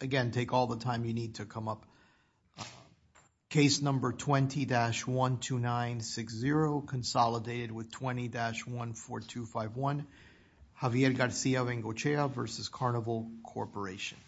Again, take all the time you need to come up. Case number 20-12960, Consolidated with 20-14251, Javier Garcia-Bengochea v. Carnival Corporation. Case number 20-12960, Consolidated with 20-14251, Javier Garcia-Bengochea v. Royal Cribbean Cruises, Javier Garcia-Bengochea v. Royal Cribbean Cruises, Ltd.)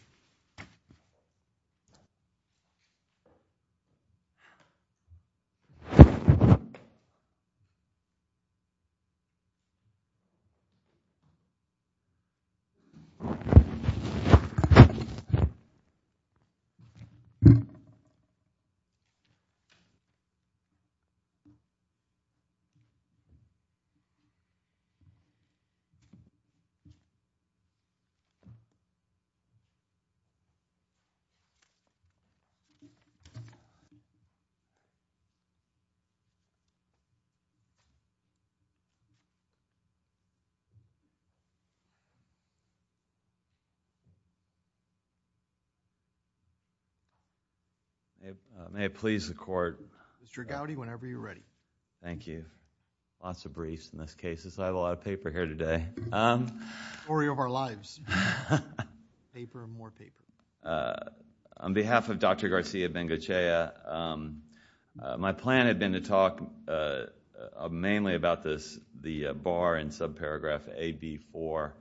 On behalf of Dr. Garcia-Bengochea, my plan had been to talk mainly about this, the bar in subparagraph AB4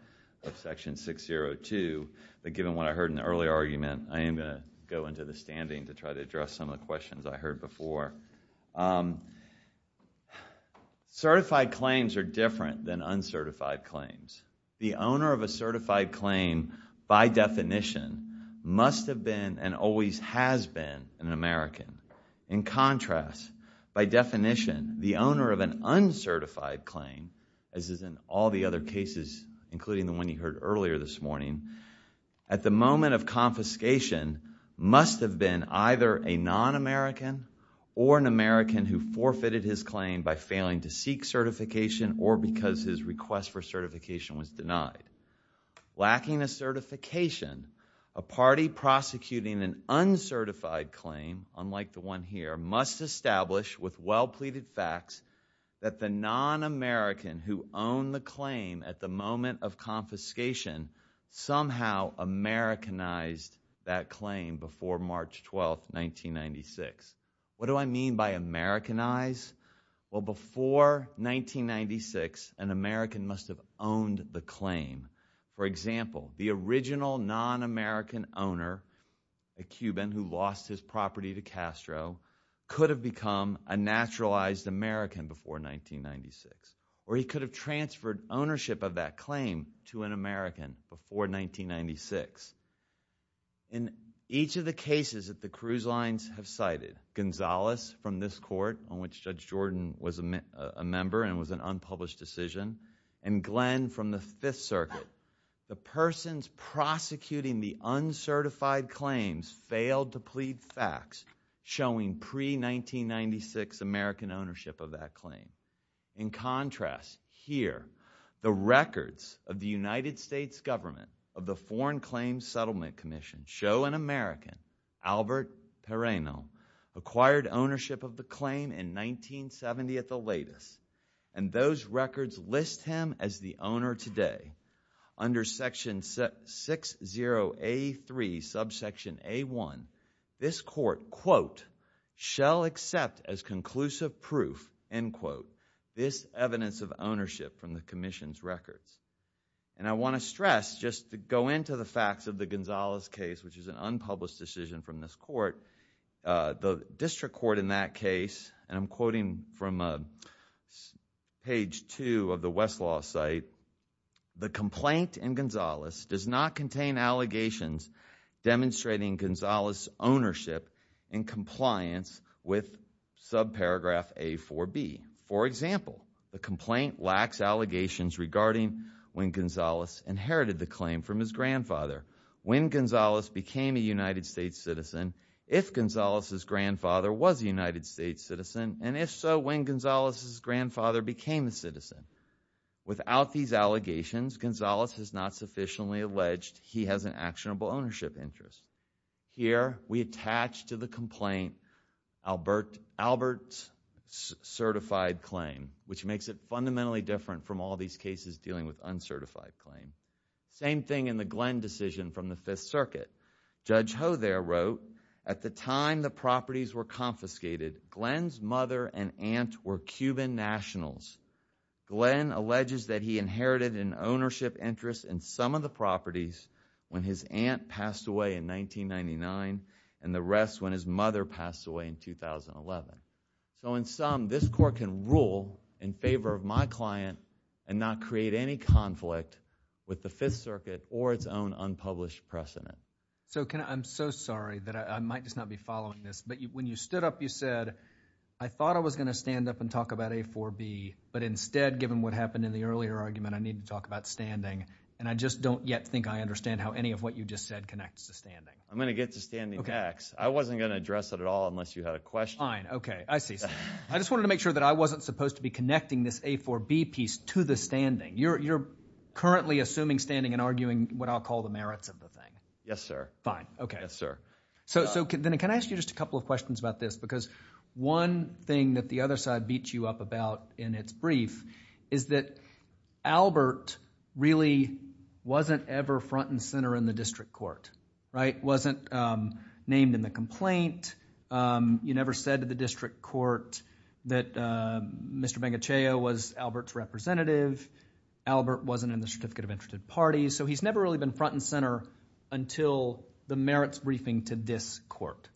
of section 602, but given what I heard in the earlier argument, I am going to go into the standing to try to address some of the questions I heard before. Certified claims are different than uncertified claims. The owner of a certified claim, by definition, must have been and always has been an American. In contrast, by definition, the owner of an uncertified claim, as is in all the other cases, including the one you heard earlier this morning, at the moment of confiscation, must have been either a non-American or an American who forfeited his claim by failing to seek certification or because his request for certification was denied. Lacking a certification, a party prosecuting an uncertified claim, unlike the one here, must establish with well-pleaded facts that the non-American who owned the claim at the moment of confiscation somehow Americanized that claim before March 12, 1996. What do I mean by Americanized? Well, before 1996, an American must have owned the claim. For example, the original non-American owner, a Cuban who lost his property to Castro, could have become a naturalized American before 1996, or he could have transferred ownership of that claim to an American before 1996. In each of the cases that the cruise lines have cited, Gonzalez from this court, on which Judge Jordan was a member and was an unpublished decision, and Glenn from the Fifth Circuit, the persons prosecuting the uncertified claims failed to plead facts showing pre-1996 American ownership of that claim. In contrast, here, the records of the United States government of the Foreign Claims Settlement Commission show an as the owner today. Under section 60A3, subsection A1, this court, quote, shall accept as conclusive proof, end quote, this evidence of ownership from the commission's records. I want to stress, just to go into the facts of the Gonzalez case, which is an unpublished decision from this court, the district court in that case, and I'm quoting from page two of the Westlaw site, the complaint in Gonzalez does not contain allegations demonstrating Gonzalez's ownership in compliance with subparagraph A4B. For example, the complaint lacks allegations regarding when Gonzalez inherited the claim from his grandfather. When Gonzalez became a United States citizen, if Gonzalez's grandfather was a United States citizen, and if so, when Gonzalez's grandfather became a citizen. Without these allegations, Gonzalez has not sufficiently alleged he has an actionable ownership interest. Here, we attach to the complaint Albert's certified claim, which makes it fundamentally different from all these cases dealing with at the time the properties were confiscated, Glenn's mother and aunt were Cuban nationals. Glenn alleges that he inherited an ownership interest in some of the properties when his aunt passed away in 1999, and the rest when his mother passed away in 2011. So in sum, this court can rule in favor of my client and not create any conflict with the Fifth Circuit or its own that I might just not be following this. But when you stood up, you said, I thought I was going to stand up and talk about A4B, but instead, given what happened in the earlier argument, I need to talk about standing. And I just don't yet think I understand how any of what you just said connects to standing. I'm going to get to standing next. I wasn't going to address it at all unless you had a question. Fine. Okay. I see. I just wanted to make sure that I wasn't supposed to be connecting this A4B piece to the standing. You're currently assuming standing and arguing what I'll call the So then can I ask you just a couple of questions about this? Because one thing that the other side beat you up about in its brief is that Albert really wasn't ever front and center in the district court, right? Wasn't named in the complaint. You never said to the district court that Mr. Bengachayo was Albert's representative. Albert wasn't in the Certificate of Interested Parties. So he's never really been front and court.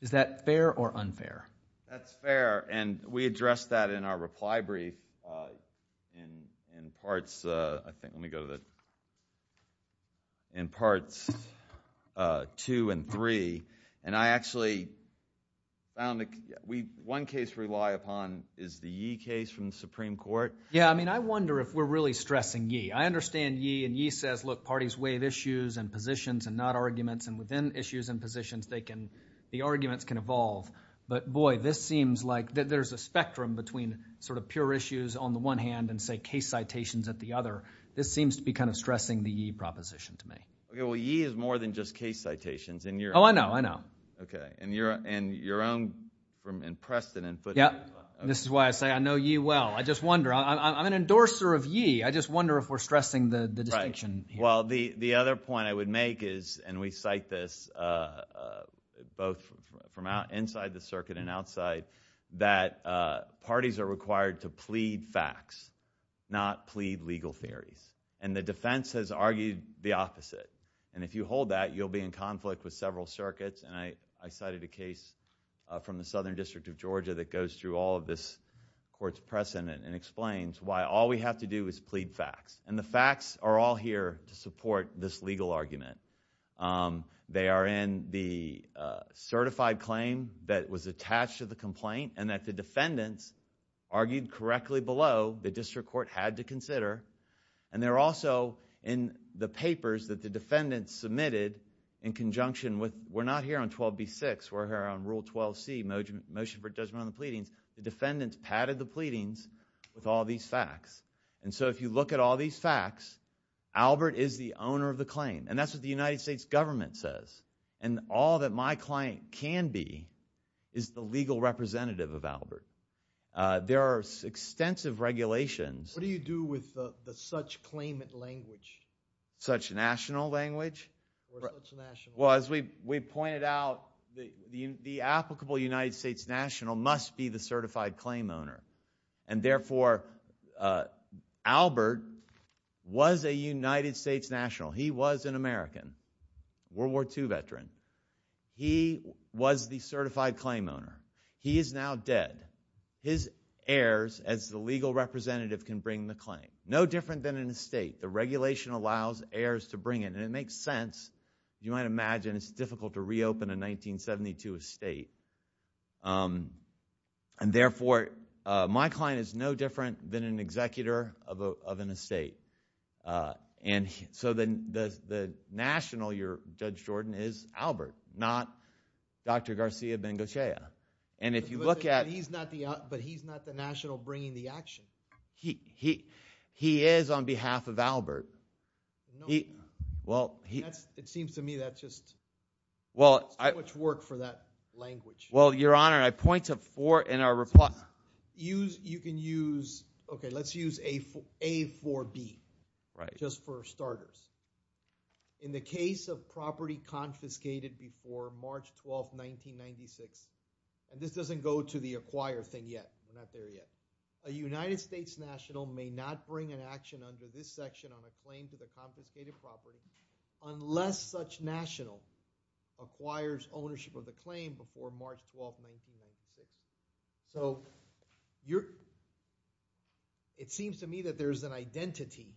Is that fair or unfair? That's fair. And we addressed that in our reply brief in parts two and three. And I actually found one case we rely upon is the Yi case from the Supreme Court. Yeah. I mean, I wonder if we're really stressing Yi. I understand Yi. And Yi says, look, parties waive issues and positions and not arguments. And within issues and positions, the arguments can evolve. But boy, this seems like there's a spectrum between sort of pure issues on the one hand and, say, case citations at the other. This seems to be kind of stressing the Yi proposition to me. Okay. Well, Yi is more than just case citations. Oh, I know. I know. Okay. And your own in Preston and Foothill. Yeah. This is why I say I know Yi well. I'm an endorser of Yi. I just wonder if we're stressing the distinction. Right. Well, the other point I would make is, and we cite this both from inside the circuit and outside, that parties are required to plead facts, not plead legal theories. And the defense has argued the opposite. And if you hold that, you'll be in conflict with several circuits. And I cited a case from the Southern District of And the facts are all here to support this legal argument. They are in the certified claim that was attached to the complaint and that the defendants argued correctly below the district court had to consider. And they're also in the papers that the defendants submitted in conjunction with, we're not here on 12B6, we're here on Rule 12C, motion for judgment on the pleadings. The defendants padded the pleadings with all these facts. And so if you look at all these facts, Albert is the owner of the claim. And that's what the United States government says. And all that my client can be is the legal representative of Albert. There are extensive regulations. What do you do with the such claimant language? Such national language? Well, as we pointed out, the applicable United States national must be the certified claim owner. And therefore, Albert was a United States national. He was an American, World War II veteran. He was the certified claim owner. He is now dead. His heirs as the legal representative can bring the claim. No different than an estate. The regulation allows heirs to bring it. And it makes sense. You might imagine it's difficult to reopen a 1972 estate. And therefore, my client is no different than an executor of an estate. And so the national, your Judge Jordan, is Albert, not Dr. Garcia Bengocea. And if you look at... But he's not the national bringing the action. He is on behalf of Albert. He... Well, he... It seems to me that's just... Well, I... Too much work for that language. Well, Your Honor, I point to four in our reply. Use... You can use... Okay, let's use A for B. Right. Just for starters. In the case of property confiscated before March 12th, 1996, and this doesn't go to the acquire thing yet. We're not there yet. A United States national may not bring an action under this section on a claim to the confiscated property unless such national acquires ownership of the claim before March 12th, 1996. So you're... It seems to me that there's an identity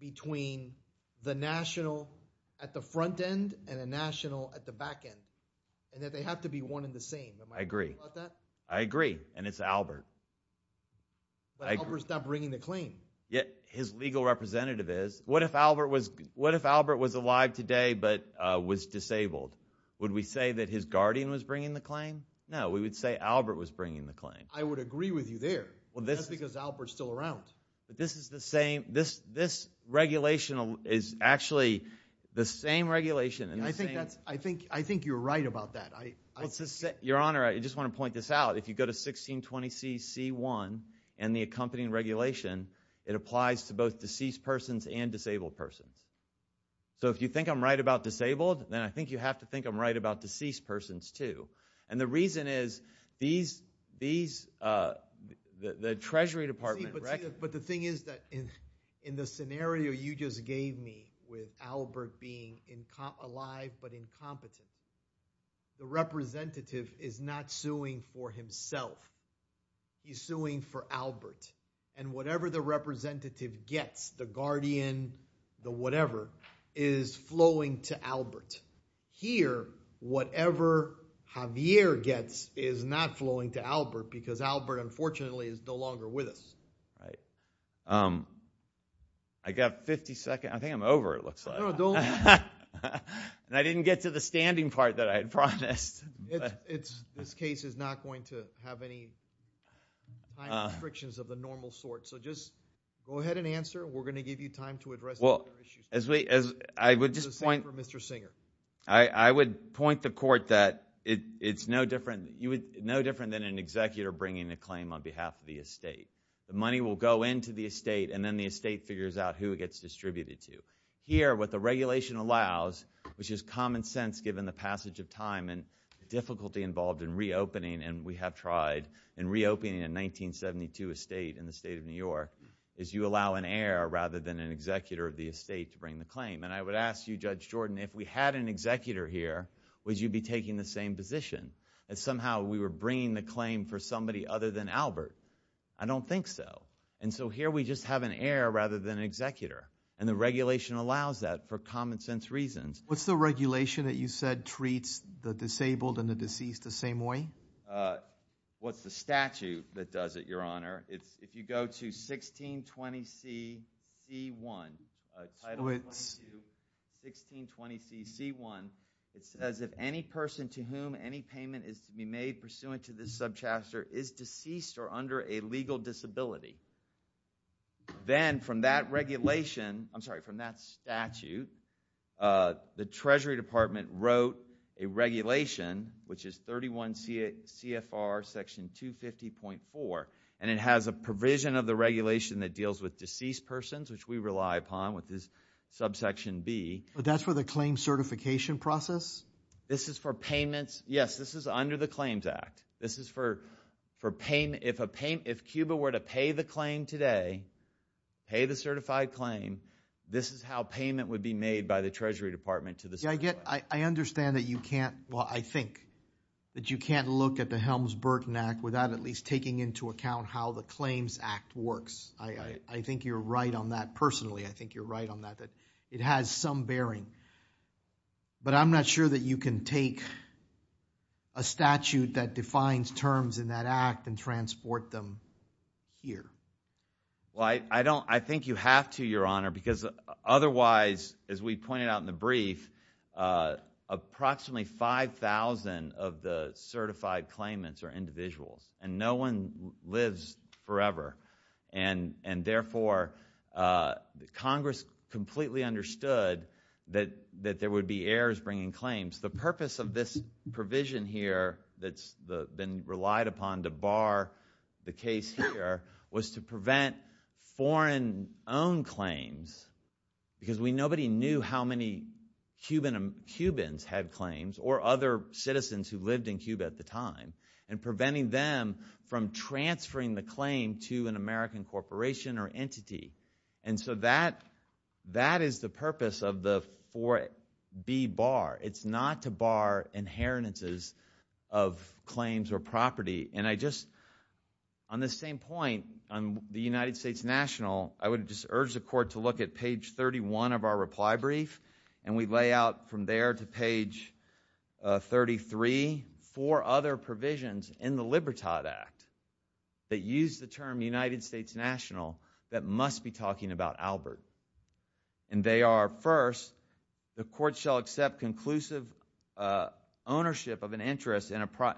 between the national at the front end and a national at the back end, and that they have to be one and the same. Am I right about that? I agree. I agree. And it's Albert. But Albert's not bringing the claim. Yet his legal representative is. What if Albert was alive today but was disabled? Would we say that his guardian was bringing the claim? No. We would say Albert was bringing the claim. I would agree with you there. That's because Albert's still around. But this is the same... This regulation is actually the same regulation and the same... I think you're right about that. Your Honor, I just want to point this out. If you go to 1620C.C.1 and the accompanying regulation, it applies to both deceased persons and disabled persons. So if you think I'm right about disabled, then I think you have to think I'm right about deceased persons, too. And the reason is these... The Treasury Department... But the thing is that in the scenario you just gave me with Albert being alive but incompetent, the representative is not suing for himself. He's suing for Albert. And whatever the representative gets, the guardian, the whatever, is flowing to Albert. Here, whatever Javier gets is not flowing to Albert because Albert, unfortunately, is no longer with us. I got 50 seconds. I think I'm over, it looks like. No, don't... And I didn't get to the standing part that I had promised. This case is not going to have any time restrictions of the normal sort. So just go ahead and answer. We're going to give you time to address... Well, as we... I would just point...... for Mr. Singer. I would point the Court that it's no different than an executor bringing a claim on behalf of the estate. The money will go into the estate and then the estate figures out who it gets distributed to. Here, what the regulation allows, which is common sense given the passage of time and difficulty involved in reopening, and we have tried in reopening a 1972 estate in the state of New York, is you allow an heir rather than an executor of the estate to bring the claim. And I would ask you, Judge Jordan, if we had an executor here, would you be taking the same position? That somehow we were bringing the claim for somebody other than Albert? I don't think so. And so here we just have an heir rather than an executor. And the regulation allows that for common sense reasons. What's the regulation that you said treats the disabled and the deceased the same way? What's the statute that does it, Your Honor? If you go to 1620 C.C.1, Title 22, 1620 C.C.1, it says if any person to whom any payment is to be made pursuant to this subchapter is deceased or under a legal disability, then from that regulation, I'm sorry, from that statute, the Treasury Department wrote a regulation, which is 31 CFR Section 250.4, and it has a provision of the regulation that deals with deceased persons, which we rely upon with this subsection B. But that's for the claim certification process? This is for payments. Yes, this is under the if Cuba were to pay the claim today, pay the certified claim, this is how payment would be made by the Treasury Department to the certified. I understand that you can't, well, I think that you can't look at the Helms-Burton Act without at least taking into account how the Claims Act works. I think you're right on that personally. I think you're right on that, that it has some bearing. But I'm not sure that you can take a statute that defines terms in that Act and transport them here. Well, I don't, I think you have to, Your Honor, because otherwise, as we pointed out in the brief, approximately 5,000 of the certified claimants are individuals, and no one lives forever. And therefore, Congress completely understood that there would be errors bringing claims. The purpose of this provision here that's been relied upon to bar the case here was to prevent foreign-owned claims, because we nobody knew how many Cubans had claims or other citizens who lived in Cuba at the time, and preventing them from transferring the claim to an American corporation or entity. And so that is the And I just, on the same point, on the United States National, I would just urge the Court to look at page 31 of our reply brief, and we lay out from there to page 33 four other provisions in the Libertad Act that use the term United States National that must be talking about Albert. And they are, first, the Court shall accept conclusive ownership of an interest in a,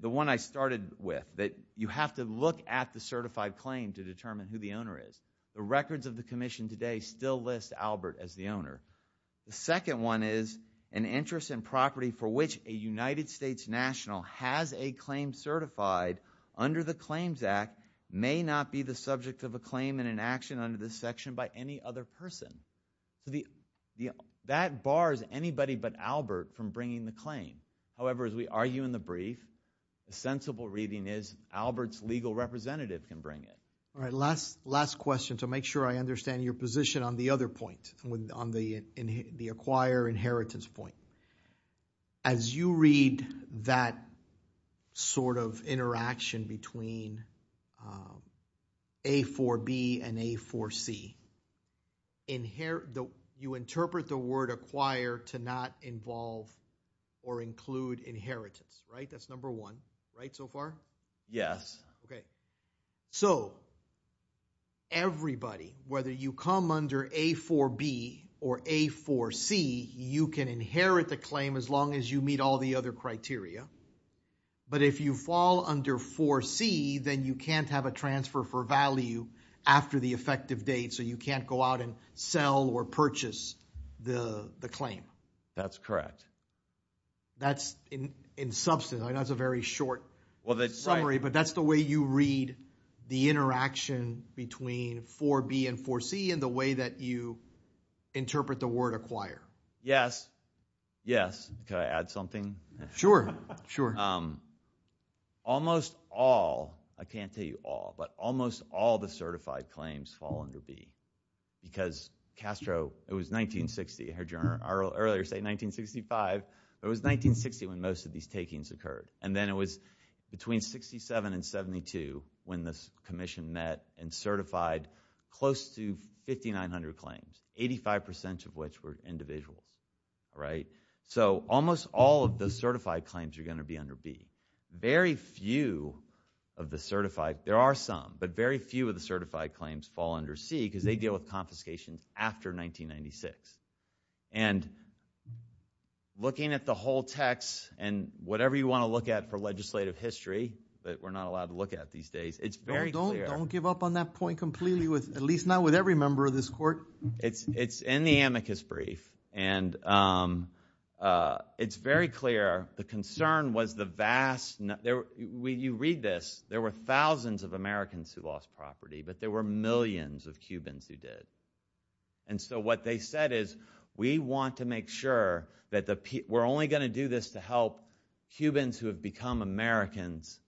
the one I started with, that you have to look at the certified claim to determine who the owner is. The records of the Commission today still list Albert as the owner. The second one is, an interest in property for which a United States National has a claim certified under the Claims Act may not be the subject of a claim and an action under this section by any other person. The, that bars anybody but Albert from bringing the claim. However, as we argue in the brief, the sensible reading is Albert's legal representative can bring it. All right, last, last question to make sure I understand your position on the other point, on the acquire inheritance point. As you read that sort of interaction between A4B and A4C, inherit, you interpret the word acquire to not involve or include inheritance, right? That's number one, right, so far? Yes. Okay. So, everybody, whether you come under A4B or A4C, you can inherit the claim as long as you meet all the other criteria. But if you fall under 4C, then you can't have a transfer for value after the effective date, so you can't go out and sell or purchase the, the claim. That's correct. That's in, in substance, that's a very short summary, but that's the way you read the interaction between 4B and 4C and the way that you interpret the word acquire. Yes, yes. Can I add something? Sure, sure. Almost all, I can't tell you all, but almost all the certified claims fall under B, because Castro, it was 1960, I heard you earlier say 1965, but it was 1960 when most of these takings occurred, and then it was between 67 and 72 when this commission met and certified close to 5,900 claims, 85% of which were individuals, right? So, almost all of the certified claims are going to be under B. Very few of the certified, there are some, but very few of the certified claims fall under C, because they deal with confiscations after 1996. And looking at the whole text and whatever you want to look at for legislative history, that we're not allowed to look at these days, it's very clear. Don't give up on that point at least not with every member of this court. It's in the amicus brief, and it's very clear the concern was the vast, you read this, there were thousands of Americans who lost property, but there were millions of Cubans who did. And so what they said is, we want to make sure that we're only going to do this to help Cubans who have become Americans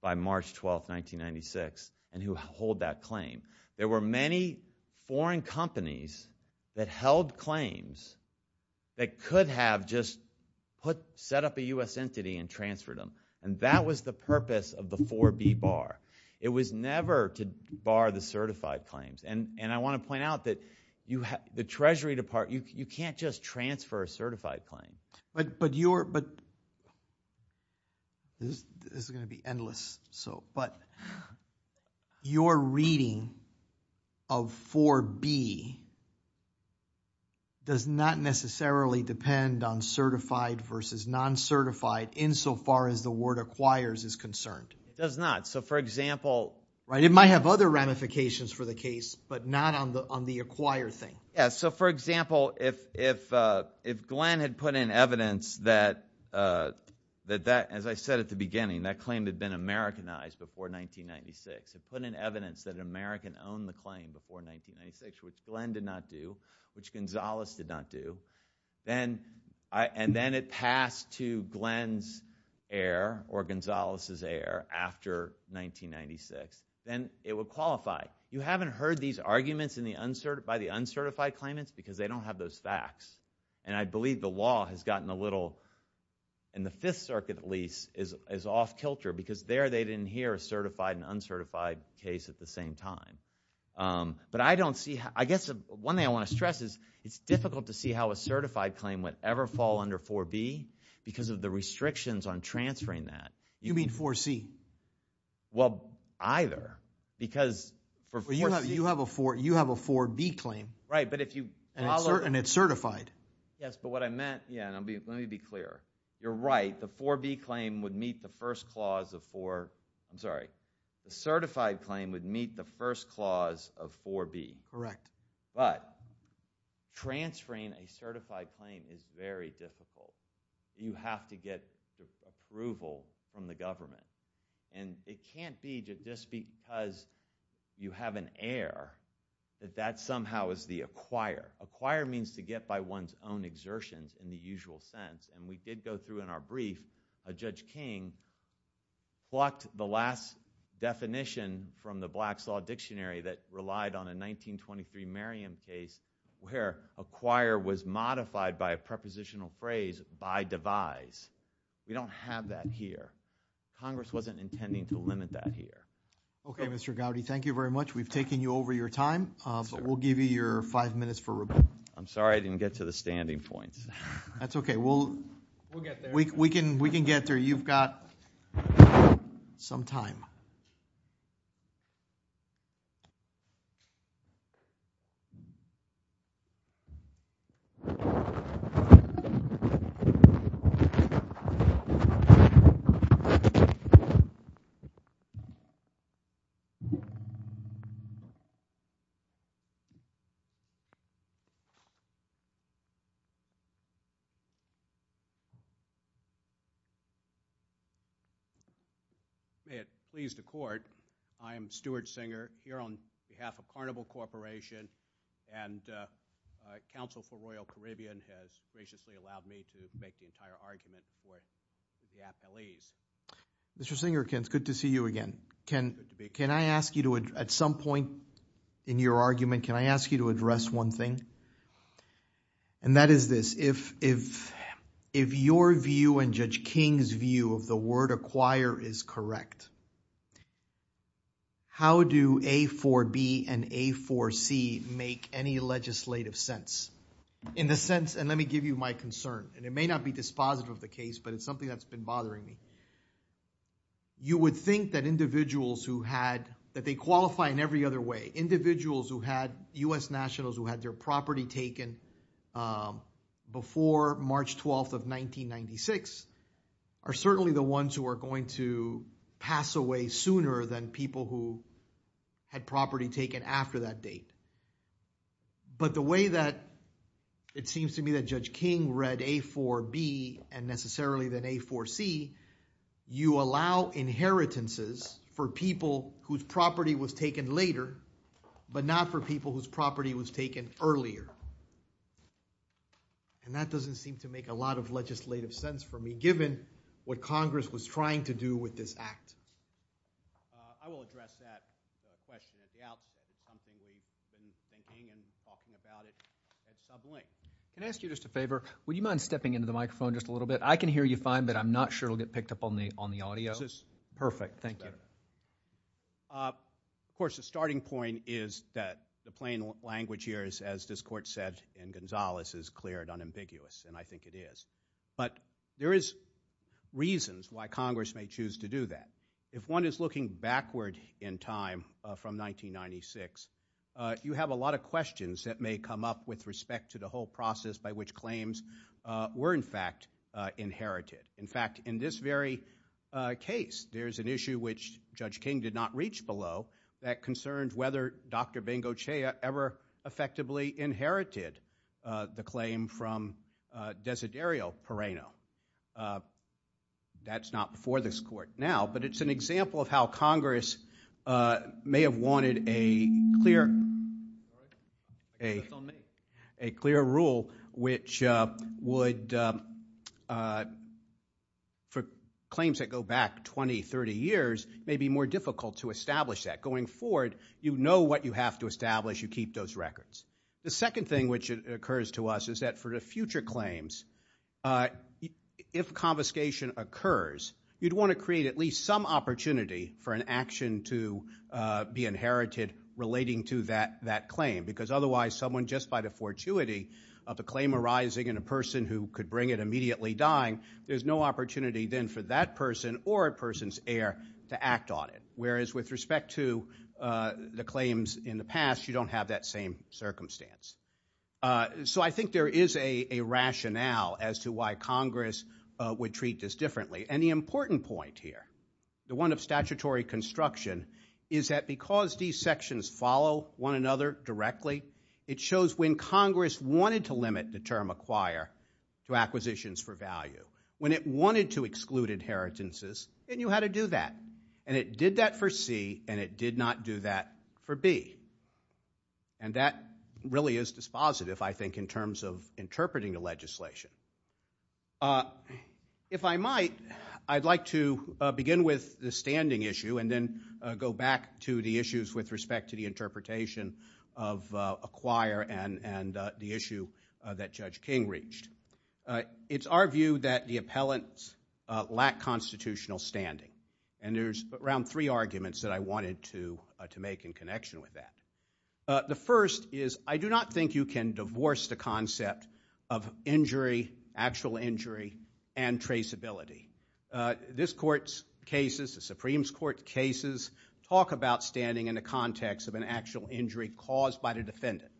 by March 12, 1996, and who hold that claim. There were many foreign companies that held claims that could have just set up a U.S. entity and transferred them. And that was the purpose of the 4B bar. It was never to bar the certified claims. And I want to point out that the Treasury Department, you can't just transfer a certified claim. But this is going to be endless. But your reading of 4B does not necessarily depend on certified versus non-certified insofar as the word acquires is concerned. It does not. So for example. Right. It might have other ramifications for the case, but not on the acquire thing. Yeah. So for example, if Glenn had put in evidence that, that that, as I said at the beginning, that claim had been Americanized before 1996, had put in evidence that an American owned the claim before 1996, which Glenn did not do, which Gonzales did not do, then, and then it passed to Glenn's heir or Gonzales's heir after 1996, then it would qualify. You haven't heard these arguments in the uncertified, by the uncertified claimants because they don't have those facts. And I believe the law has gotten a little, in the fifth circuit at least, is, is off kilter because there they didn't hear a certified and uncertified case at the same time. But I don't see, I guess one thing I want to stress is it's difficult to see how a certified claim would ever fall under 4B because of the restrictions on transferring that. You mean 4C? Well, either. Because you have, you have a 4, you have a 4B claim. Right. But if you. And it's certified. Yes. But what I meant, let me be clear. You're right, the 4B claim would meet the first clause of 4, I'm sorry, the certified claim would meet the first clause of 4B. Correct. But transferring a certified claim is very difficult. You have to get approval from the government. And it can't be just because you have an heir that that somehow is the acquire. Acquire means to get by one's exertions in the usual sense. And we did go through in our brief, a Judge King, blocked the last definition from the Black's Law Dictionary that relied on a 1923 Merriam case where acquire was modified by a prepositional phrase, by devise. We don't have that here. Congress wasn't intending to limit that here. Okay, Mr. Gowdy, thank you very much. We've taken you over your time. We'll give you your five minutes for rebuttal. I'm sorry I didn't get to the standing points. That's okay. We'll get there. We can get there. You've got some time. May it please the Court, I am Stuart Singer here on behalf of Carnival Corporation, and Council for Royal Caribbean has graciously allowed me to make the entire argument before the appellees. Mr. Singer, it's good to see you again. Can I ask you to, at some point in your argument, can I ask you to address one thing? And that is this, if your view and Judge King's view of the word acquire is correct, how do A for B and A for C make any legislative sense? In the sense, and let me give you my concern, and it may not be dispositive of the case, but it's something that's been bothering me. You would think that individuals who had, that they qualify in every other way, individuals who had, U.S. nationals who had their property taken before March 12th of 1996, are certainly the ones who are going to pass away sooner than people who had property taken after that date. But the way that it seems to me that Judge King read A for B and necessarily then A for C, you allow inheritances for people whose property was taken later, but not for people whose property was taken earlier. And that doesn't seem to make a lot of legislative sense for me, given what Congress was trying to do with this act. I will address that question as the outcome of something we've been thinking and talking about it at some length. Can I ask you just a favor? Would you mind stepping into the microphone just a little bit? I can hear you fine, but I'm not sure it'll get picked up on the audio. This is perfect. Thank you. Of course, the starting point is that the plain language here is, as this court said in Gonzales, is clear and unambiguous, and I think it is. But there is reasons why Congress may choose to do that. If one is looking backward in time from 1996, you have a lot of questions that may come up with respect to the whole process by which claims were, in fact, inherited. In fact, in this very case, there's an issue which Judge King did not reach below that concerned whether Dr. Bengocea ever effectively inherited the claim from Desiderio Perrano. That's not before this court now, but it's an example of how Congress may have wanted a clear rule which would, for claims that go back 20, 30 years, may be more difficult to establish that. Going forward, you know what you have to establish. You keep those records. The second thing which occurs to us is that for the future claims, if confiscation occurs, you'd want to create at least some opportunity for an action to be inherited relating to that claim. Because otherwise, someone just by the fortuity of the claim arising and a person who could bring it immediately dying, there's no opportunity then for that person or a person's heir to act on it. Whereas with respect to the claims in the past, you don't have that same circumstance. So I think there is a rationale as to why Congress would treat this differently. And the important point here, the one of statutory construction, is that because these sections follow one another directly, it shows when Congress wanted to limit the term acquire to acquisitions for value, when it wanted to exclude inheritances, it knew how to do that. And it did that for C and it did not do that for B. And that really is dispositive, I think, in terms of interpreting the legislation. If I might, I'd like to begin with the standing issue and then go back to the issues with respect to the interpretation of acquire and the issue that Judge King reached. It's our view that the appellants lack constitutional standing. And there's around three arguments that I wanted to make in connection with that. The first is I do not think you can divorce the concept of injury, actual injury, and traceability. This Court's cases, the Supreme Court cases, talk about standing in the context of an actual injury caused by the defendant.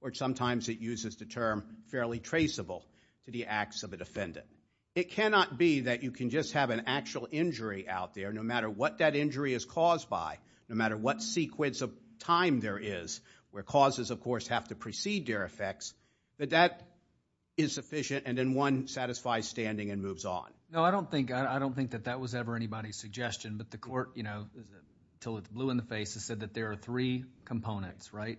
Or sometimes it uses the term fairly traceable to the acts of a defendant. It cannot be that you can just have an actual injury out there, no matter what that injury is caused by, no matter what sequence of time there is, where causes, of course, have to precede their effects, that that is sufficient and then one satisfies standing and moves on. No, I don't think that that was ever anybody's suggestion, but the Court, you know, till it's blue in the face, has said that there are three components, right?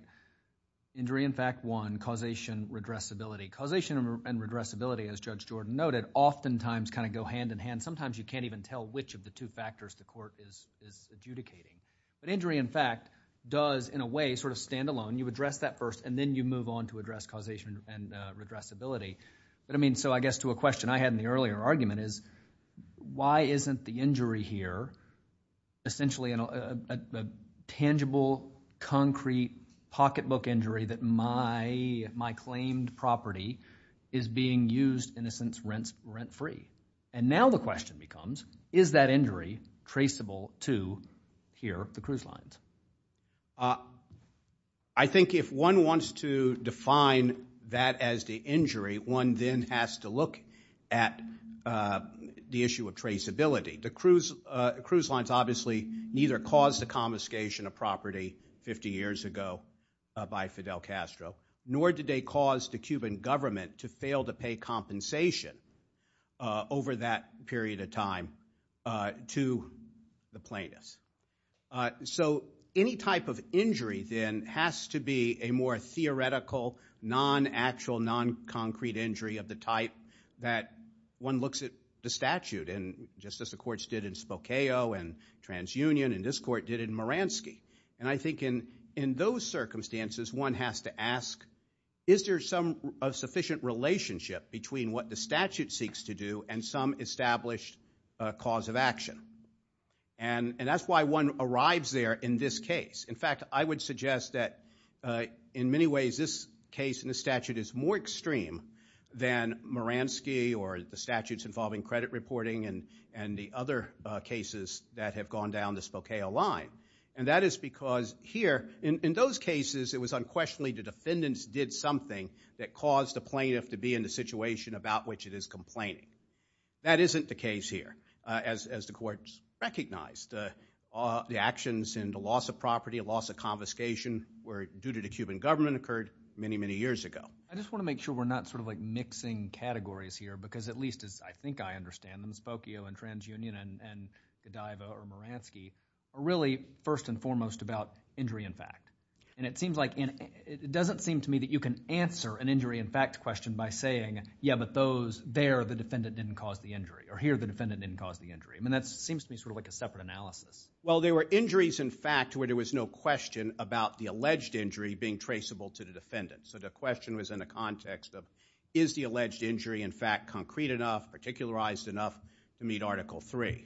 Injury in fact, one, causation, redressability. Causation and redressability, as Judge Jordan noted, oftentimes kind of go hand in hand. Sometimes you can't even tell which of the two factors the Court is adjudicating. But injury in fact does, in a way, sort of stand alone. You address that first and then you move on to address causation and redressability. But I mean, so I guess to a question I had in the earlier argument is why isn't the injury here essentially a tangible, concrete, pocketbook injury that my claimed property is being used in a sense rent-free? And now the question becomes, is that injury traceable to here, the cruise lines? I think if one wants to define that as the injury, one then has to look at the issue of traceability. The cruise lines obviously neither caused the confiscation of property 50 years ago by Fidel Castro, nor did they cause the Cuban government to fail to pay compensation over that period of time to the plaintiffs. So any type of injury then has to be a more theoretical, non-actual, non-concrete injury of the type that one looks at the statute and just as the courts did in Spokane and TransUnion and this court did in Moransky. And I think in those circumstances, one has to ask, is there some sufficient relationship between what the statute seeks to do and some established cause of action? And that's why one arrives there in this case. In fact, I would suggest that in many ways, this case and the statute is more extreme than Moransky or the statutes involving credit reporting and the other cases that have gone down the Spokane line. And that is because here, in those cases, it was unquestionably the defendants did something that caused the plaintiff to be in the situation about which it is complaining. That isn't the case here as the courts recognized the actions and the loss of property, a loss of confiscation were due to the Cuban government occurred many, many years ago. I just want to make sure we're not sort of like mixing categories here because at least as I think I understand them, Spokane and TransUnion and Godiva or Moransky are really first and foremost about injury in fact. And it seems like it doesn't seem to me that you can answer an injury in fact question by saying, yeah, but those there, the defendant didn't cause the injury or here, the defendant didn't cause the injury. I mean, that seems to me sort of like a separate analysis. Well, there were injuries in fact, where there was no question about the alleged injury being traceable to the defendant. So the question was in the context of is the alleged injury in fact concrete enough, particularized enough to meet article three.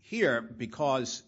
Here, because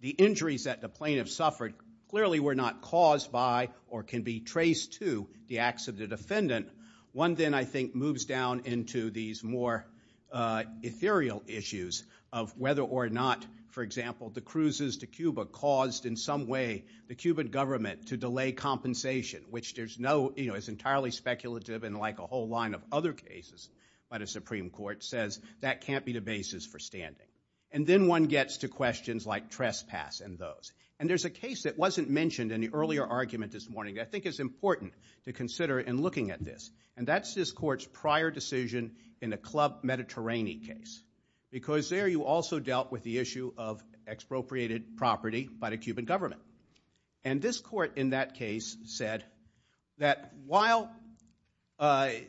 the injuries that the plaintiff suffered clearly were not caused by or can be traced to the acts of the defendant. One then I think moves down into these more ethereal issues of whether or not, for example, the cruises to Cuba caused in some way the Cuban government to delay compensation, which there's no, you know, it's entirely speculative and like a whole line of other cases by the Supreme Court says that can't be the basis for standing. And then one gets to questions like trespass and those. And there's a case that wasn't mentioned in the earlier argument this morning that I think is important to consider in looking at this. And that's this court's prior decision in the Club Mediterranean case. Because there you also dealt with the issue of expropriated property by the Cuban government. And this court in that case said that while the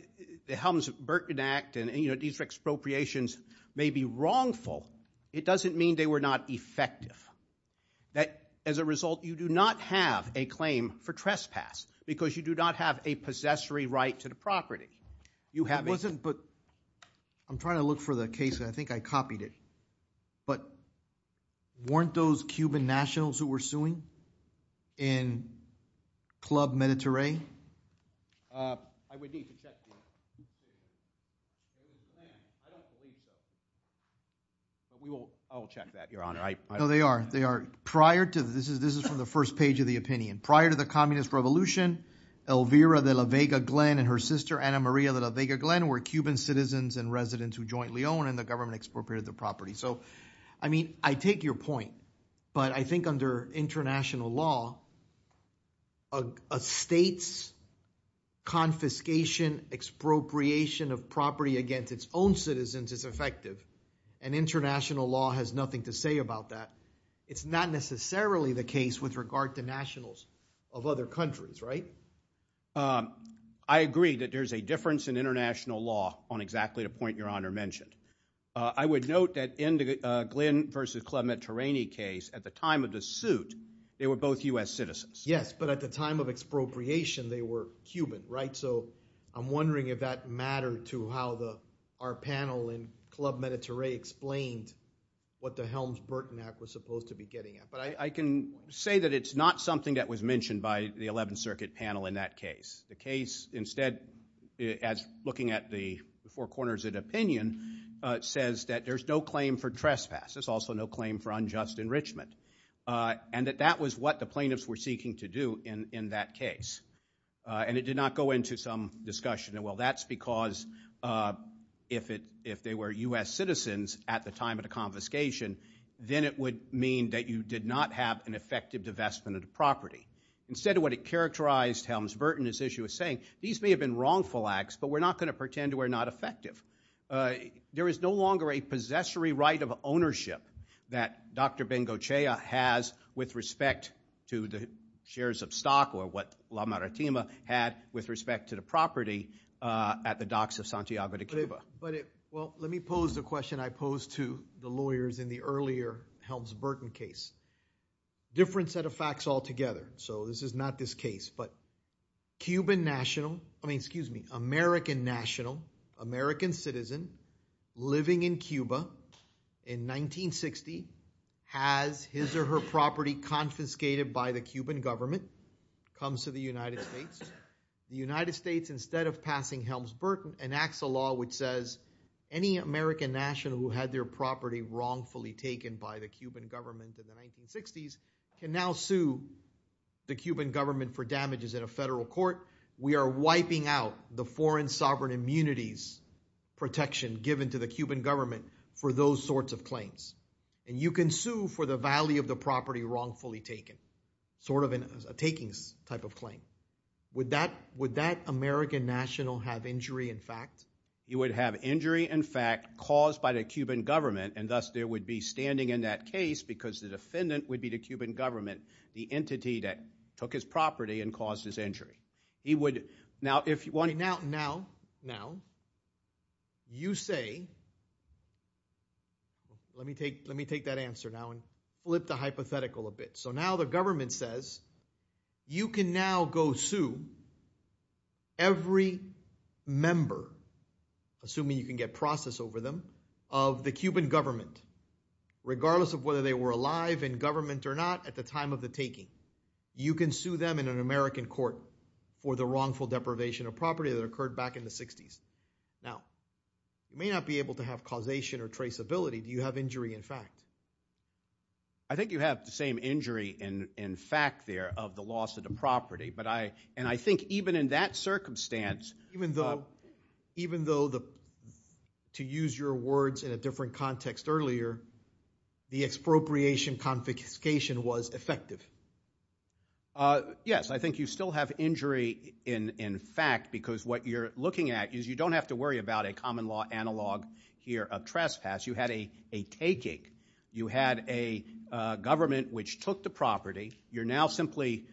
Helms-Burton Act and, you know, these expropriations may be wrongful, it doesn't mean they were not effective. That as a result, you do not have a claim for trespass because you do not have a possessory right to the property. You have it wasn't, but I'm trying to look for the case and I think I copied it. But weren't those Cuban nationals who were suing in Club Mediterranean? I would need to check. I don't believe so. I'll check that, Your Honor. No, they are. They are. Prior to this, this is from the first page of the opinion. Prior to the Communist Revolution, Elvira de la Vega Glenn and her sister, Ana Maria de la Vega Glenn, were Cuban citizens and residents who jointly owned and the government expropriated the property. So, I mean, I take your point, but I think under international law, a state's confiscation, expropriation of property against its own citizens is effective. And international law has nothing to say about that. It's not necessarily the case with regard to nationals of other countries, right? I agree that there's a difference in international law on exactly the point Your Honor mentioned. I would note that in the Glenn versus Club Mediterranean case, at the time of the suit, they were both U.S. citizens. Yes, but at the time of expropriation, they were Cuban, right? So, I'm wondering if that mattered to how our panel in Club Mediterranean explained what the Helms-Burton Act was supposed to be getting at. But I can say that it's not something that was mentioned by the 11th Circuit panel in that case. Instead, as looking at the four corners of the opinion, it says that there's no claim for trespass. There's also no claim for unjust enrichment. And that that was what the plaintiffs were seeking to do in that case. And it did not go into some discussion. Well, that's because if they were U.S. citizens at the time of the confiscation, then it would mean that you did not have an effective divestment of the property. Instead of what it characterized Helms-Burton, as you were saying, these may have been wrongful acts, but we're not going to pretend we're not effective. There is no longer a possessory right of ownership that Dr. Bengochea has with respect to the shares of stock or what La Maritima had with respect to the property at the docks of Santiago de Cuba. Well, let me pose the question I posed to the lawyers in the earlier Helms-Burton case. Different set of facts altogether. So this is not this case. But Cuban national, I mean, excuse me, American national, American citizen living in Cuba in 1960 has his or her property confiscated by the Cuban government. Comes to the United States. The United States, instead of passing Helms-Burton, enacts a law which says any American national who had their property wrongfully taken by the Cuban government in the 1960s can now sue the Cuban government for damages in a federal court. We are wiping out the foreign sovereign immunities protection given to the Cuban government for those sorts of claims. And you can sue for the value of the property wrongfully taken. Sort of a takings type of claim. Would that American national have injury in fact? He would have injury in fact caused by the Cuban government and thus there would be standing in that case because the defendant would be the Cuban government. The entity that took his property and caused his injury. Now, if you want, now, now, you say, let me take that answer now and flip the hypothetical a bit. So now the government says you can now go sue every member, assuming you can get process over them, of the Cuban government. Regardless of whether they were alive in government or not at the time of the taking. You can sue them in an American court for the wrongful deprivation of property that occurred back in the 60s. Now, you may not be able to have causation or traceability. Do you have injury in fact? I think you have the same injury in fact there of the loss of the property. But I, and I think even in that circumstance. Even though, even though the, to use your words in a different context earlier, the expropriation confiscation was effective. Yes, I think you still have injury in fact because what you're looking at is you don't have to worry about a common law analog here of trespass. You had a, a taking. You had a government which took the property. You're now simply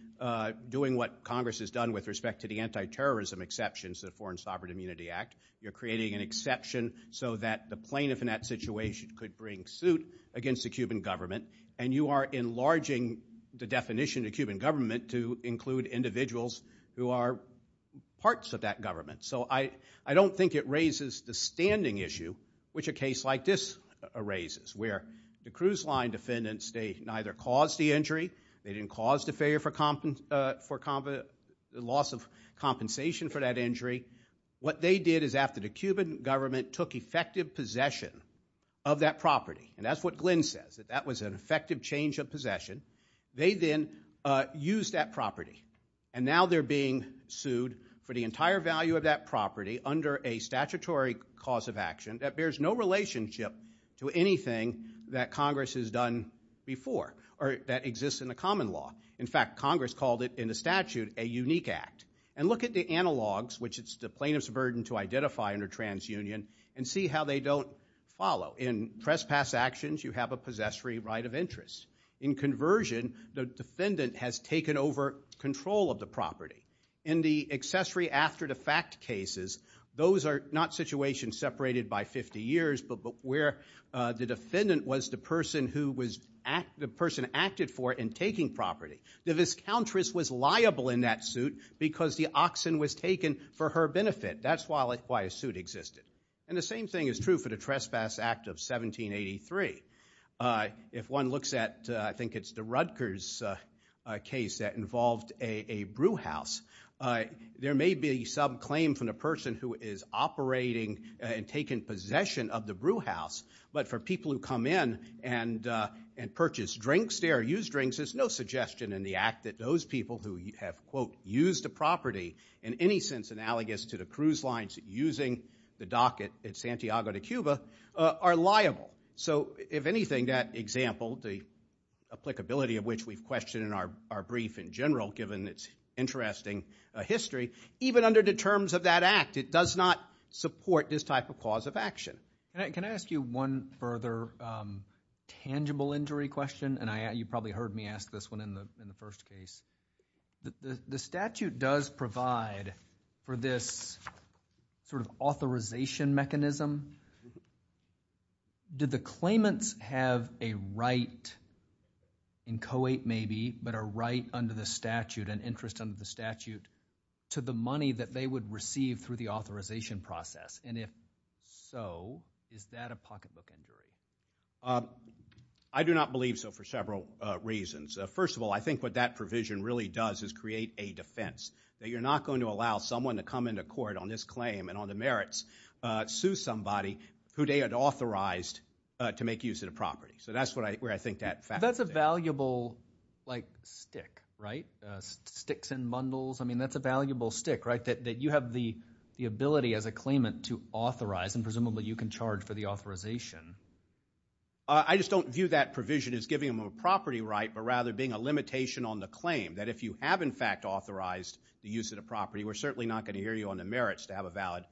doing what Congress has done with respect to the anti-terrorism exceptions, the Foreign Sovereign Immunity Act. You're creating an exception so that the plaintiff in that situation could bring suit against the Cuban government. And you are enlarging the definition of Cuban government to include individuals who are parts of that government. So I, I don't think it raises the standing issue which a case like this raises. Where the cruise line defendants, they neither caused the injury. They didn't cause the failure for, for loss of compensation for that injury. What they did is after the Cuban government took effective possession of that property. And that's what Glenn says. That that was an effective change of possession. They then used that property. And now they're being sued for the entire value of that property under a statutory cause of action that bears no relationship to anything that Congress has done before. Or that exists in the common law. In fact, Congress called it in the statute a unique act. And look at the analogs which it's the plaintiff's burden to identify under TransUnion and see how they don't follow. In trespass actions you have a possessory right of interest. In conversion, the defendant has taken over control of the property. In the accessory after the fact cases, those are not situations separated by 50 years. But where the defendant was the person who was, the person acted for in taking property. The viscountress was liable in that suit because the oxen was taken for her benefit. That's why a suit existed. And the same thing is true for the Trespass Act of 1783. If one looks at, I think it's the Rutgers case that involved a brew house. There may be some claim from the person who is operating and taking possession of the brew house. But for people who come in and purchase drinks, they are used drinks. There's no suggestion in the act that those people who have, quote, used the property in any sense analogous to the cruise lines using the dock at Santiago de Cuba are liable. So if anything, that example, the applicability of which we've questioned in our brief in general given its interesting history, even under the terms of that act, it does not support this type of cause of action. Can I ask you one further tangible injury question? And you probably heard me ask this one in the first case. The statute does provide for this sort of authorization mechanism. Did the claimants have a right in Co-8 maybe, but a right under the statute, an interest under the statute, to the money that they would receive through the authorization process? And if so, is that a pocketbook injury? I do not believe so for several reasons. First of all, I think what that provision really does is create a defense, that you're not going to allow someone to come into court on this claim and on the merits, sue somebody who they had authorized to make use of the property. So that's where I think that factor is. That's a valuable, like, stick, right? Sticks and bundles. I mean, that's a valuable stick, right, that you have the ability as a claimant to authorize, and presumably you can charge for the authorization. I just don't view that provision as giving them a property right, but rather being a limitation on the claim, that if you have, in fact, authorized the use of the property, we're certainly not going to hear you on the merits to have a valid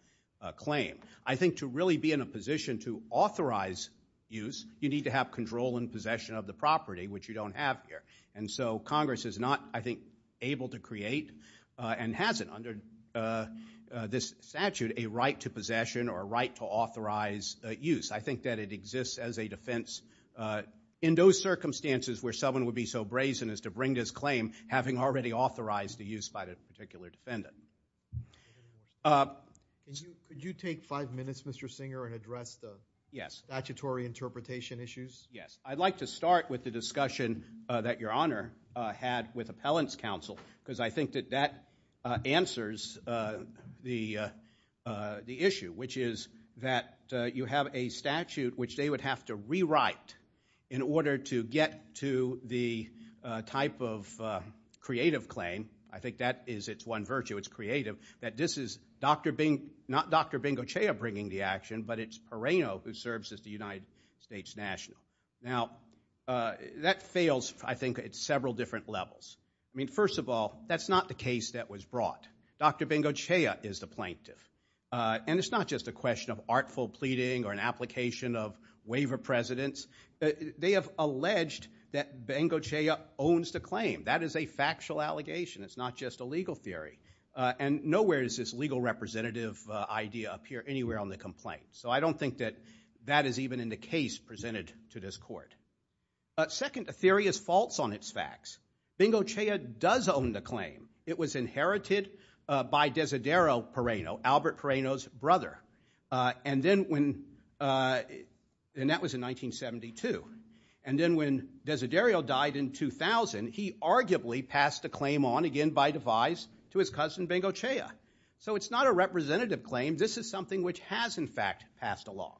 claim. I think to really be in a position to authorize use, you need to have control and possession of the property, which you don't have here. And so Congress is not, I think, able to create, and hasn't under this statute, a right to possession or a right to authorize use. I think that it exists as a defense in those circumstances where someone would be so brazen as to bring this claim, having already authorized the use by the particular defendant. Could you take five minutes, Mr. Singer, and address the statutory interpretation issues? Yes. I'd like to start with the discussion that Your Honor had with Appellant's Counsel, because I think that that answers the issue, which is that you have a statute which they would have to rewrite in order to get to the type of creative claim. I think that is its one virtue, it's creative, that this is not Dr. Bengocea bringing the action, but it's Pereno who serves as the United States national. Now, that fails, I think, at several different levels. I mean, first of all, that's not the case that was brought. Dr. Bengocea is the plaintiff. And it's not just a question of artful pleading or an application of waiver precedence. They have alleged that Bengocea owns the claim. That is a factual allegation. It's not just a legal theory. And nowhere does this legal representative idea appear anywhere on the complaint. So I don't think that that is even in the case presented to this court. Second, a theory is false on its facts. Bengocea does own the claim. It was inherited by Desiderio Pereno, Albert Pereno's brother. And that was in 1972. And then when Desiderio died in 2000, he arguably passed the claim on, again by devise, to his cousin Bengocea. So it's not a representative claim. This is something which has, in fact, passed along.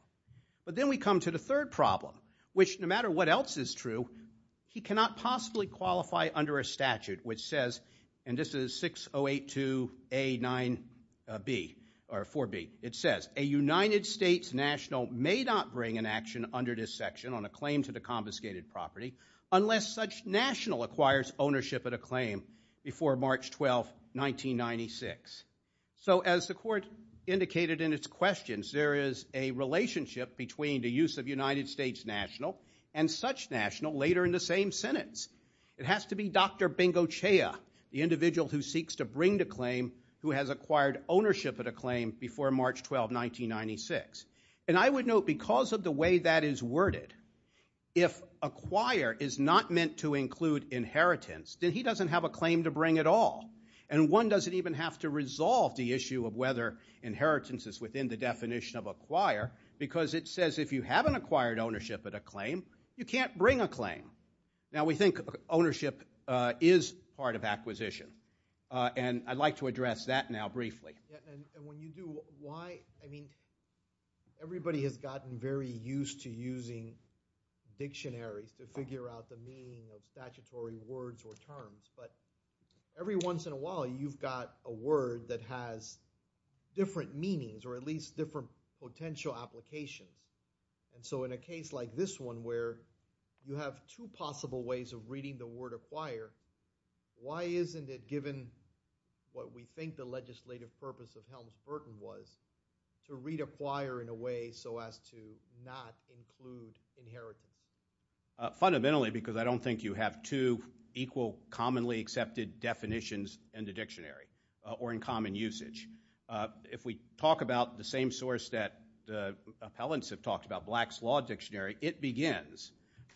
But then we come to the third problem, which no matter what else is true, he cannot possibly qualify under a statute which says, and this is 6082A4B, it says, a United States national may not bring an action under this section on a claim to the confiscated property unless such national acquires ownership of the claim before March 12, 1996. So as the court indicated in its questions, there is a relationship between the use of United States national and such national later in the same sentence. It has to be Dr. Bengocea, the individual who seeks to bring the claim, who has acquired ownership of the claim before March 12, 1996. And I would note, because of the way that is worded, if acquire is not meant to include inheritance, then he doesn't have a claim to bring at all. And one doesn't even have to resolve the issue of whether inheritance is within the definition of acquire, because it says if you haven't acquired ownership of the claim, you can't bring a claim. Now, we think ownership is part of acquisition. And I'd like to address that now briefly. Everybody has gotten very used to using dictionaries to figure out the meaning of statutory words or terms. But every once in a while, you've got a word that has different meanings or at least different potential applications. And so in a case like this one where you have two possible ways of reading the word acquire, why isn't it given what we think the legislative purpose of Helms-Burton was, to read acquire in a way so as to not include inheritance? Fundamentally, because I don't think you have two equal commonly accepted definitions in the dictionary or in common usage. If we talk about the same source that the appellants have talked about, Black's Law Dictionary, it begins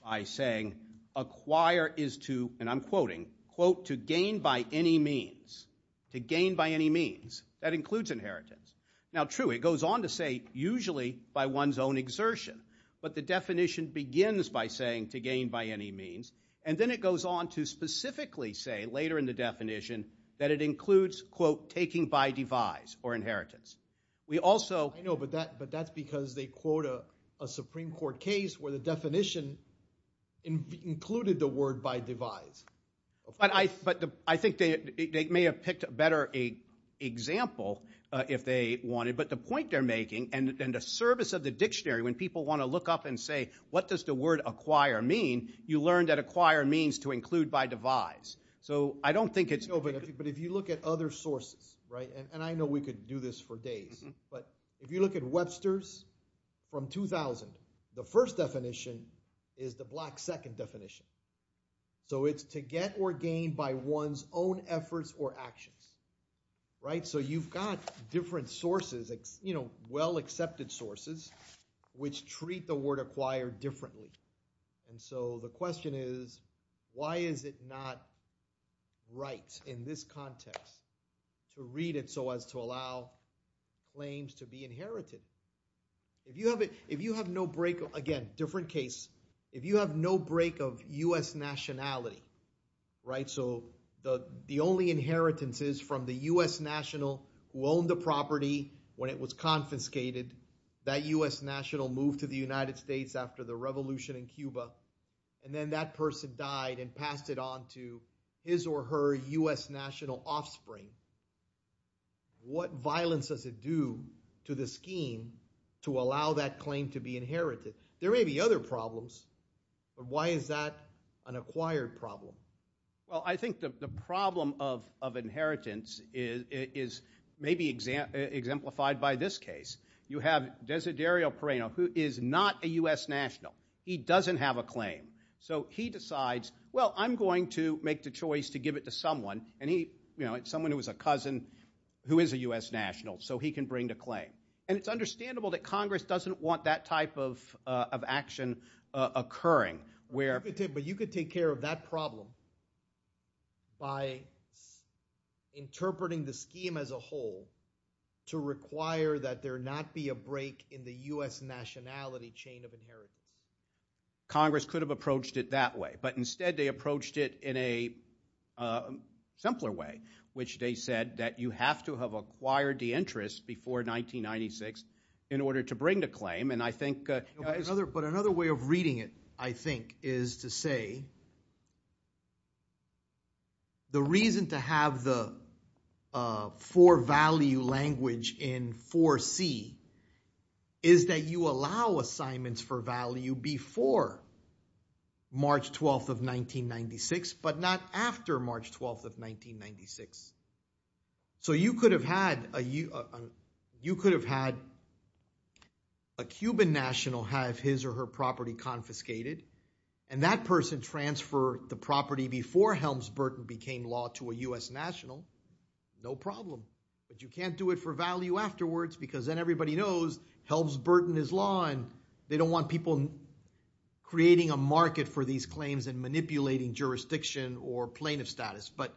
by saying acquire is to, and I'm quoting, quote, to gain by any means. To gain by any means. That includes inheritance. Now, true, it goes on to say usually by one's own exertion. But the definition begins by saying to gain by any means. And then it goes on to specifically say later in the definition that it includes, quote, taking by devise or inheritance. We also – I know, but that's because they quote a Supreme Court case where the definition included the word by devise. But I think they may have picked a better example if they wanted. But the point they're making and the service of the dictionary when people want to look up and say what does the word acquire mean, you learn that acquire means to include by devise. So I don't think it's – No, but if you look at other sources, right, and I know we could do this for days. But if you look at Webster's from 2000, the first definition is the Black second definition. So it's to get or gain by one's own efforts or actions. So you've got different sources, well-accepted sources, which treat the word acquire differently. And so the question is why is it not right in this context to read it so as to allow claims to be inherited? If you have no break – again, different case. If you have no break of U.S. nationality, right, so the only inheritance is from the U.S. national who owned the property when it was confiscated. That U.S. national moved to the United States after the revolution in Cuba, and then that person died and passed it on to his or her U.S. national offspring. What violence does it do to the scheme to allow that claim to be inherited? There may be other problems, but why is that an acquired problem? Well, I think the problem of inheritance is maybe exemplified by this case. You have Desiderio Pereno, who is not a U.S. national. He doesn't have a claim. So he decides, well, I'm going to make the choice to give it to someone, and it's someone who is a cousin who is a U.S. national, so he can bring the claim. And it's understandable that Congress doesn't want that type of action occurring. But you could take care of that problem by interpreting the scheme as a whole to require that there not be a break in the U.S. nationality chain of inheritance. Congress could have approached it that way, but instead they approached it in a simpler way, which they said that you have to have acquired the interest before 1996 in order to bring the claim. But another way of reading it, I think, is to say the reason to have the for value language in 4C is that you allow assignments for value before March 12th of 1996, but not after March 12th of 1996. So you could have had a Cuban national have his or her property confiscated, and that person transfer the property before Helms-Burton became law to a U.S. national, no problem. But you can't do it for value afterwards because then everybody knows Helms-Burton is law, and they don't want people creating a market for these claims and manipulating jurisdiction or plaintiff status. But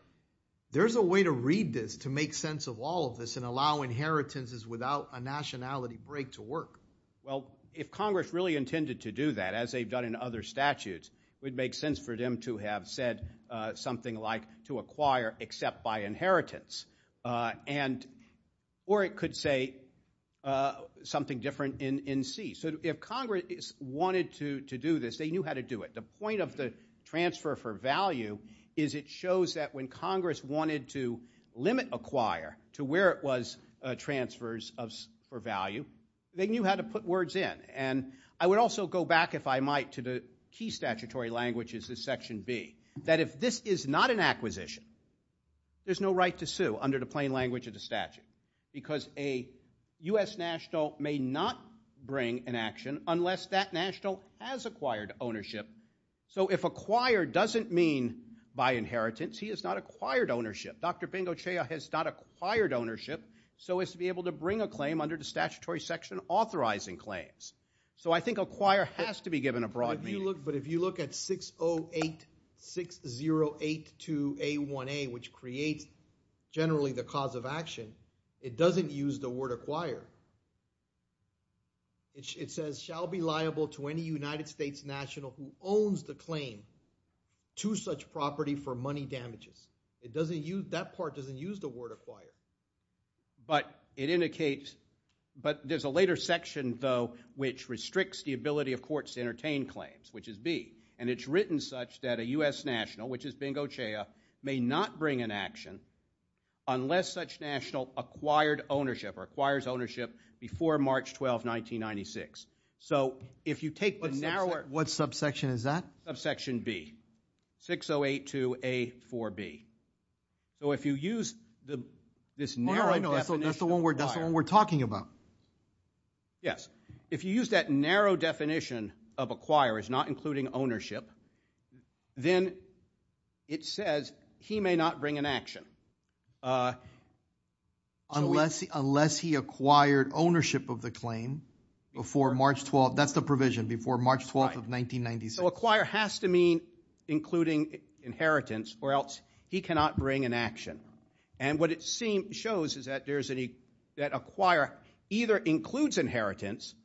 there's a way to read this to make sense of all of this and allow inheritances without a nationality break to work. Well, if Congress really intended to do that, as they've done in other statutes, it would make sense for them to have said something like to acquire except by inheritance, or it could say something different in C. So if Congress wanted to do this, they knew how to do it. The point of the transfer for value is it shows that when Congress wanted to limit acquire to where it was transfers for value, they knew how to put words in. And I would also go back, if I might, to the key statutory languages of Section B, that if this is not an acquisition, there's no right to sue under the plain language of the statute because a U.S. national may not bring an action unless that national has acquired ownership. So if acquire doesn't mean by inheritance, he has not acquired ownership. Dr. Bengocea has not acquired ownership, so as to be able to bring a claim under the statutory section authorizing claims. So I think acquire has to be given a broad meaning. But if you look at 6086082A1A, which creates generally the cause of action, it doesn't use the word acquire. It says, shall be liable to any United States national who owns the claim to such property for money damages. That part doesn't use the word acquire. But it indicates, but there's a later section, though, which restricts the ability of courts to entertain claims, which is B. And it's written such that a U.S. national, which is Bengocea, may not bring an action unless such national acquired ownership or acquires ownership before March 12, 1996. So if you take the narrower… What subsection is that? Subsection B, 6082A4B. So if you use this narrow definition of acquire… That's the one we're talking about. Yes. If you use that narrow definition of acquire as not including ownership, then it says he may not bring an action. Unless he acquired ownership of the claim before March 12th. That's the provision, before March 12th of 1996. So acquire has to mean including inheritance, or else he cannot bring an action. And what it shows is that acquire either includes inheritance,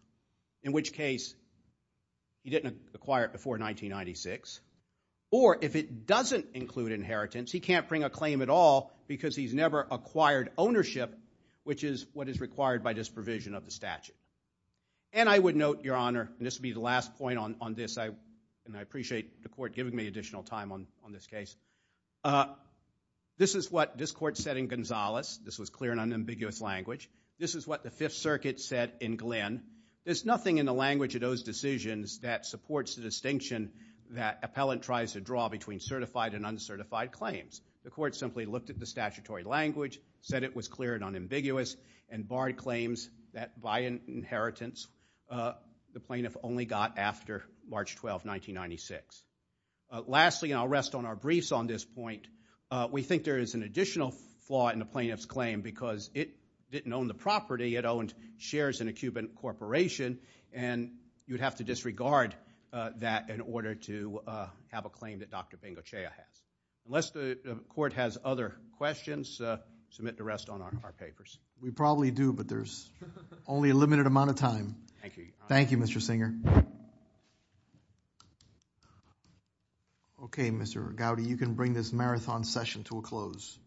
in which case he didn't acquire it before 1996, or if it doesn't include inheritance, he can't bring a claim at all because he's never acquired ownership, which is what is required by this provision of the statute. And I would note, Your Honor, and this would be the last point on this, and I appreciate the court giving me additional time on this case. This is what this court said in Gonzales. This was clear and unambiguous language. This is what the Fifth Circuit said in Glenn. There's nothing in the language of those decisions that supports the distinction that appellant tries to draw between certified and uncertified claims. The court simply looked at the statutory language, said it was clear and unambiguous, and barred claims that by inheritance the plaintiff only got after March 12th, 1996. Lastly, and I'll rest on our briefs on this point, we think there is an additional flaw in the plaintiff's claim because it didn't own the property. It owned shares in a Cuban corporation, and you'd have to disregard that in order to have a claim that Dr. Bengocea has. Unless the court has other questions, submit the rest on our papers. We probably do, but there's only a limited amount of time. Thank you, Your Honor. Thank you, Mr. Singer. Okay, Mr. Gowdy, you can bring this marathon session to a close.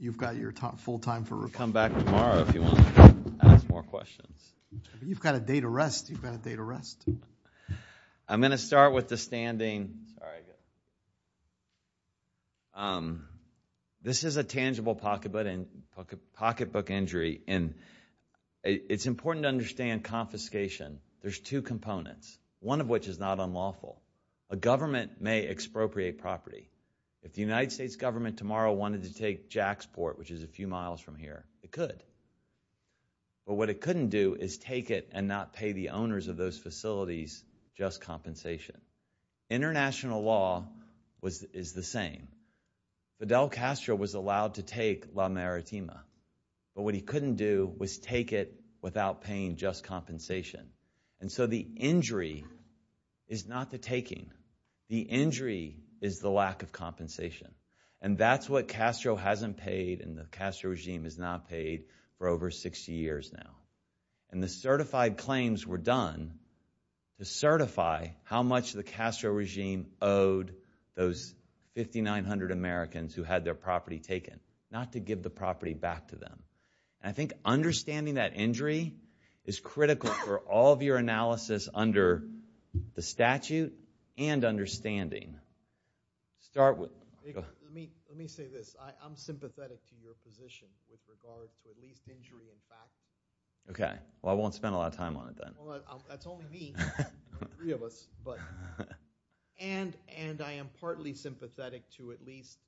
You've got your full time for reflection. Come back tomorrow if you want to ask more questions. You've got a day to rest. You've got a day to rest. I'm going to start with the standing. Sorry. This is a tangible pocketbook injury, and it's important to understand confiscation. There's two components, one of which is not unlawful. A government may expropriate property. If the United States government tomorrow wanted to take Jaxport, which is a few miles from here, it could. But what it couldn't do is take it and not pay the owners of those facilities just compensation. International law is the same. Fidel Castro was allowed to take La Maritima, but what he couldn't do was take it without paying just compensation. And so the injury is not the taking. The injury is the lack of compensation. And that's what Castro hasn't paid and the Castro regime has not paid for over 60 years now. And the certified claims were done to certify how much the Castro regime owed those 5,900 Americans who had their property taken, not to give the property back to them. And I think understanding that injury is critical for all of your analysis under the statute and understanding. Start with... Let me say this. I'm sympathetic to your position with regard to at least injury in fact. Okay. Well, I won't spend a lot of time on it then. Well, that's only me. Three of us, but... And I am partly sympathetic to at least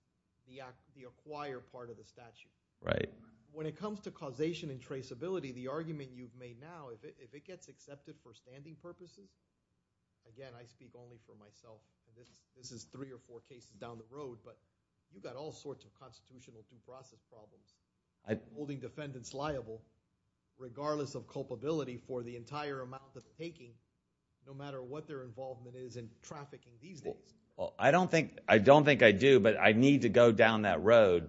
the acquired part of the statute. Right. When it comes to causation and traceability, the argument you've made now, if it gets accepted for standing purposes... Again, I speak only for myself. This is three or four cases down the road, but you've got all sorts of constitutional due process problems holding defendants liable regardless of culpability for the entire amount of taking no matter what their involvement is in trafficking these days. Well, I don't think I do, but I need to go down that road.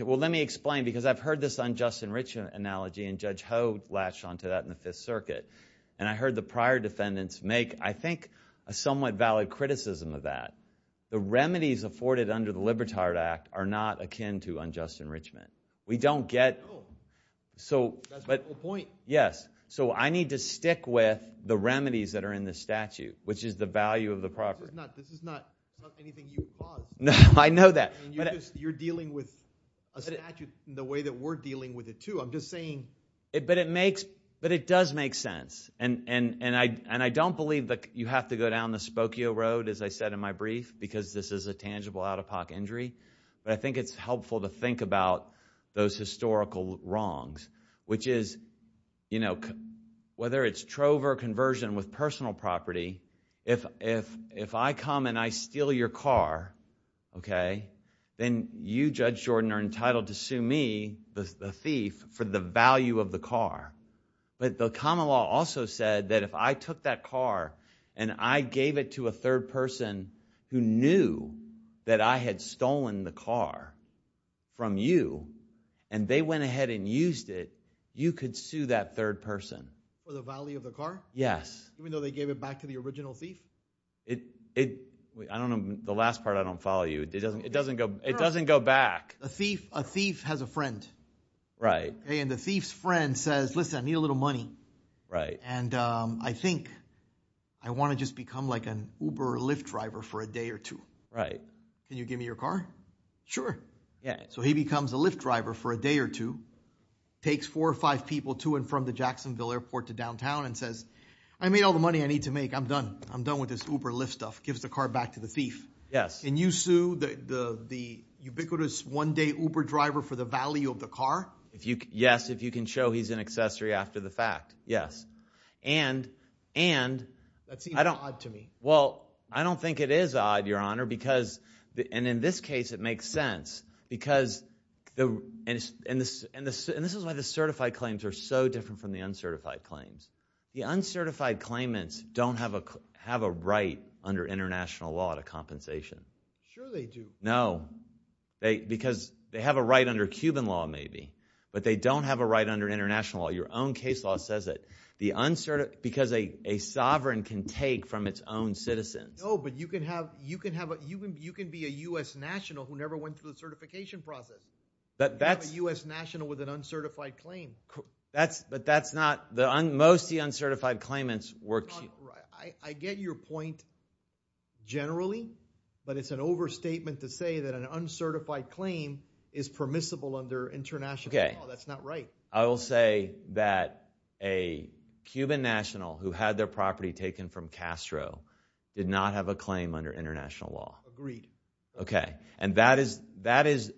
Well, let me explain, because I've heard this unjust enrichment analogy, and Judge Ho latched onto that in the Fifth Circuit. And I heard the prior defendants make, I think, a somewhat valid criticism of that. The remedies afforded under the Libertard Act are not akin to unjust enrichment. We don't get... That's my point. Yes. So I need to stick with the remedies that are in the statute, which is the value of the property. This is not anything you've fought. I know that. You're dealing with a statute the way that we're dealing with it, too. I'm just saying... But it does make sense. And I don't believe that you have to go down the Spokio Road, as I said in my brief, because this is a tangible out-of-pocket injury. But I think it's helpful to think about those historical wrongs, which is, you know, whether it's trove or conversion with personal property, if I come and I steal your car, okay, then you, Judge Jordan, are entitled to sue me, the thief, for the value of the car. But the common law also said that if I took that car and I gave it to a third person who knew that I had stolen the car from you and they went ahead and used it, you could sue that third person. For the value of the car? Yes. Even though they gave it back to the original thief? It... I don't know. The last part, I don't follow you. It doesn't go back. A thief has a friend. Right. And the thief's friend says, Listen, I need a little money. Right. And I think I want to just become like an Uber Lyft driver for a day or two. Right. Can you give me your car? Sure. Yeah. So he becomes a Lyft driver for a day or two, takes four or five people to and from the Jacksonville Airport to downtown, and says, I made all the money I need to make. I'm done. I'm done with this Uber Lyft stuff. Gives the car back to the thief. Yes. And you sue the ubiquitous one-day Uber driver for the value of the car? Yes, if you can show he's an accessory after the fact. Yes. And... That seems odd to me. Well, I don't think it is odd, Your Honor, because... And in this case, it makes sense. Because... And this is why the certified claims are so different from the uncertified claims. The uncertified claimants don't have a right under international law to compensation. Sure they do. No. Because they have a right under Cuban law, maybe. But they don't have a right under international law. Your own case law says that. Because a sovereign can take from its own citizens. No, but you can be a U.S. national who never went through the certification process. But that's... You can be a U.S. national with an uncertified claim. But that's not... Most of the uncertified claimants were... I get your point generally, but it's an overstatement to say that an uncertified claim is permissible under international law. That's not right. I will say that a Cuban national who had their property taken from Castro did not have a claim under international law. Agreed. Okay. And that is...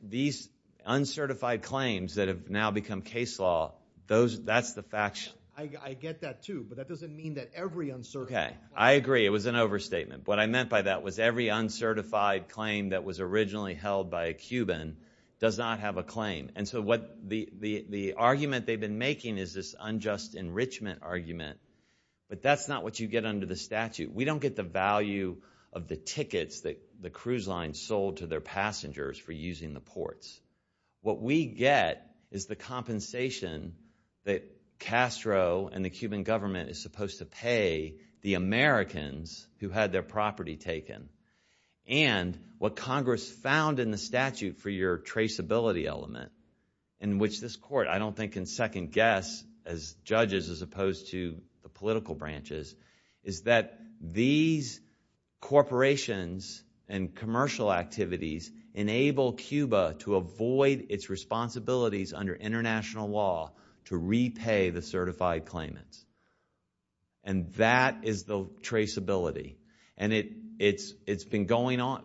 Uncertified claims that have now become case law, that's the fact... I get that too, but that doesn't mean that every uncertified claim... Okay, I agree. It was an overstatement. What I meant by that was every uncertified claim that was originally held by a Cuban does not have a claim. And so the argument they've been making is this unjust enrichment argument. But that's not what you get under the statute. We don't get the value of the tickets that the cruise lines sold to their passengers for using the ports. What we get is the compensation that Castro and the Cuban government is supposed to pay the Americans who had their property taken. And what Congress found in the statute for your traceability element, in which this court, I don't think, can second-guess as judges as opposed to the political branches, is that these corporations and commercial activities enable Cuba to avoid its responsibilities under international law to repay the certified claimants. And that is the traceability. And it's been going on...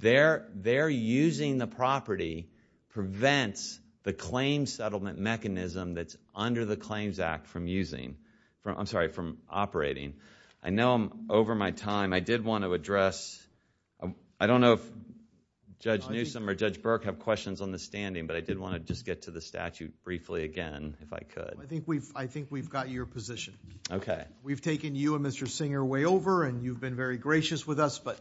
Their using the property prevents the claims settlement mechanism that's under the Claims Act from using... I'm sorry, from operating. I know over my time, I did want to address... I don't know if Judge Newsom or Judge Burke have questions on the standing, but I did want to just get to the statute briefly again, if I could. I think we've got your position. Okay. We've taken you and Mr. Singer way over, and you've been very gracious with us, but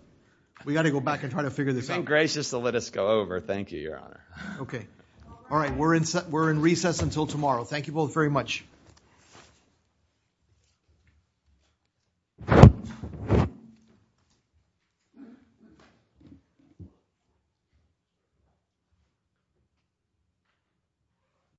we've got to go back and try to figure this out. You're so gracious to let us go over. Thank you, Your Honor. Okay. All right, we're in recess until tomorrow. Thank you both very much. Thank you.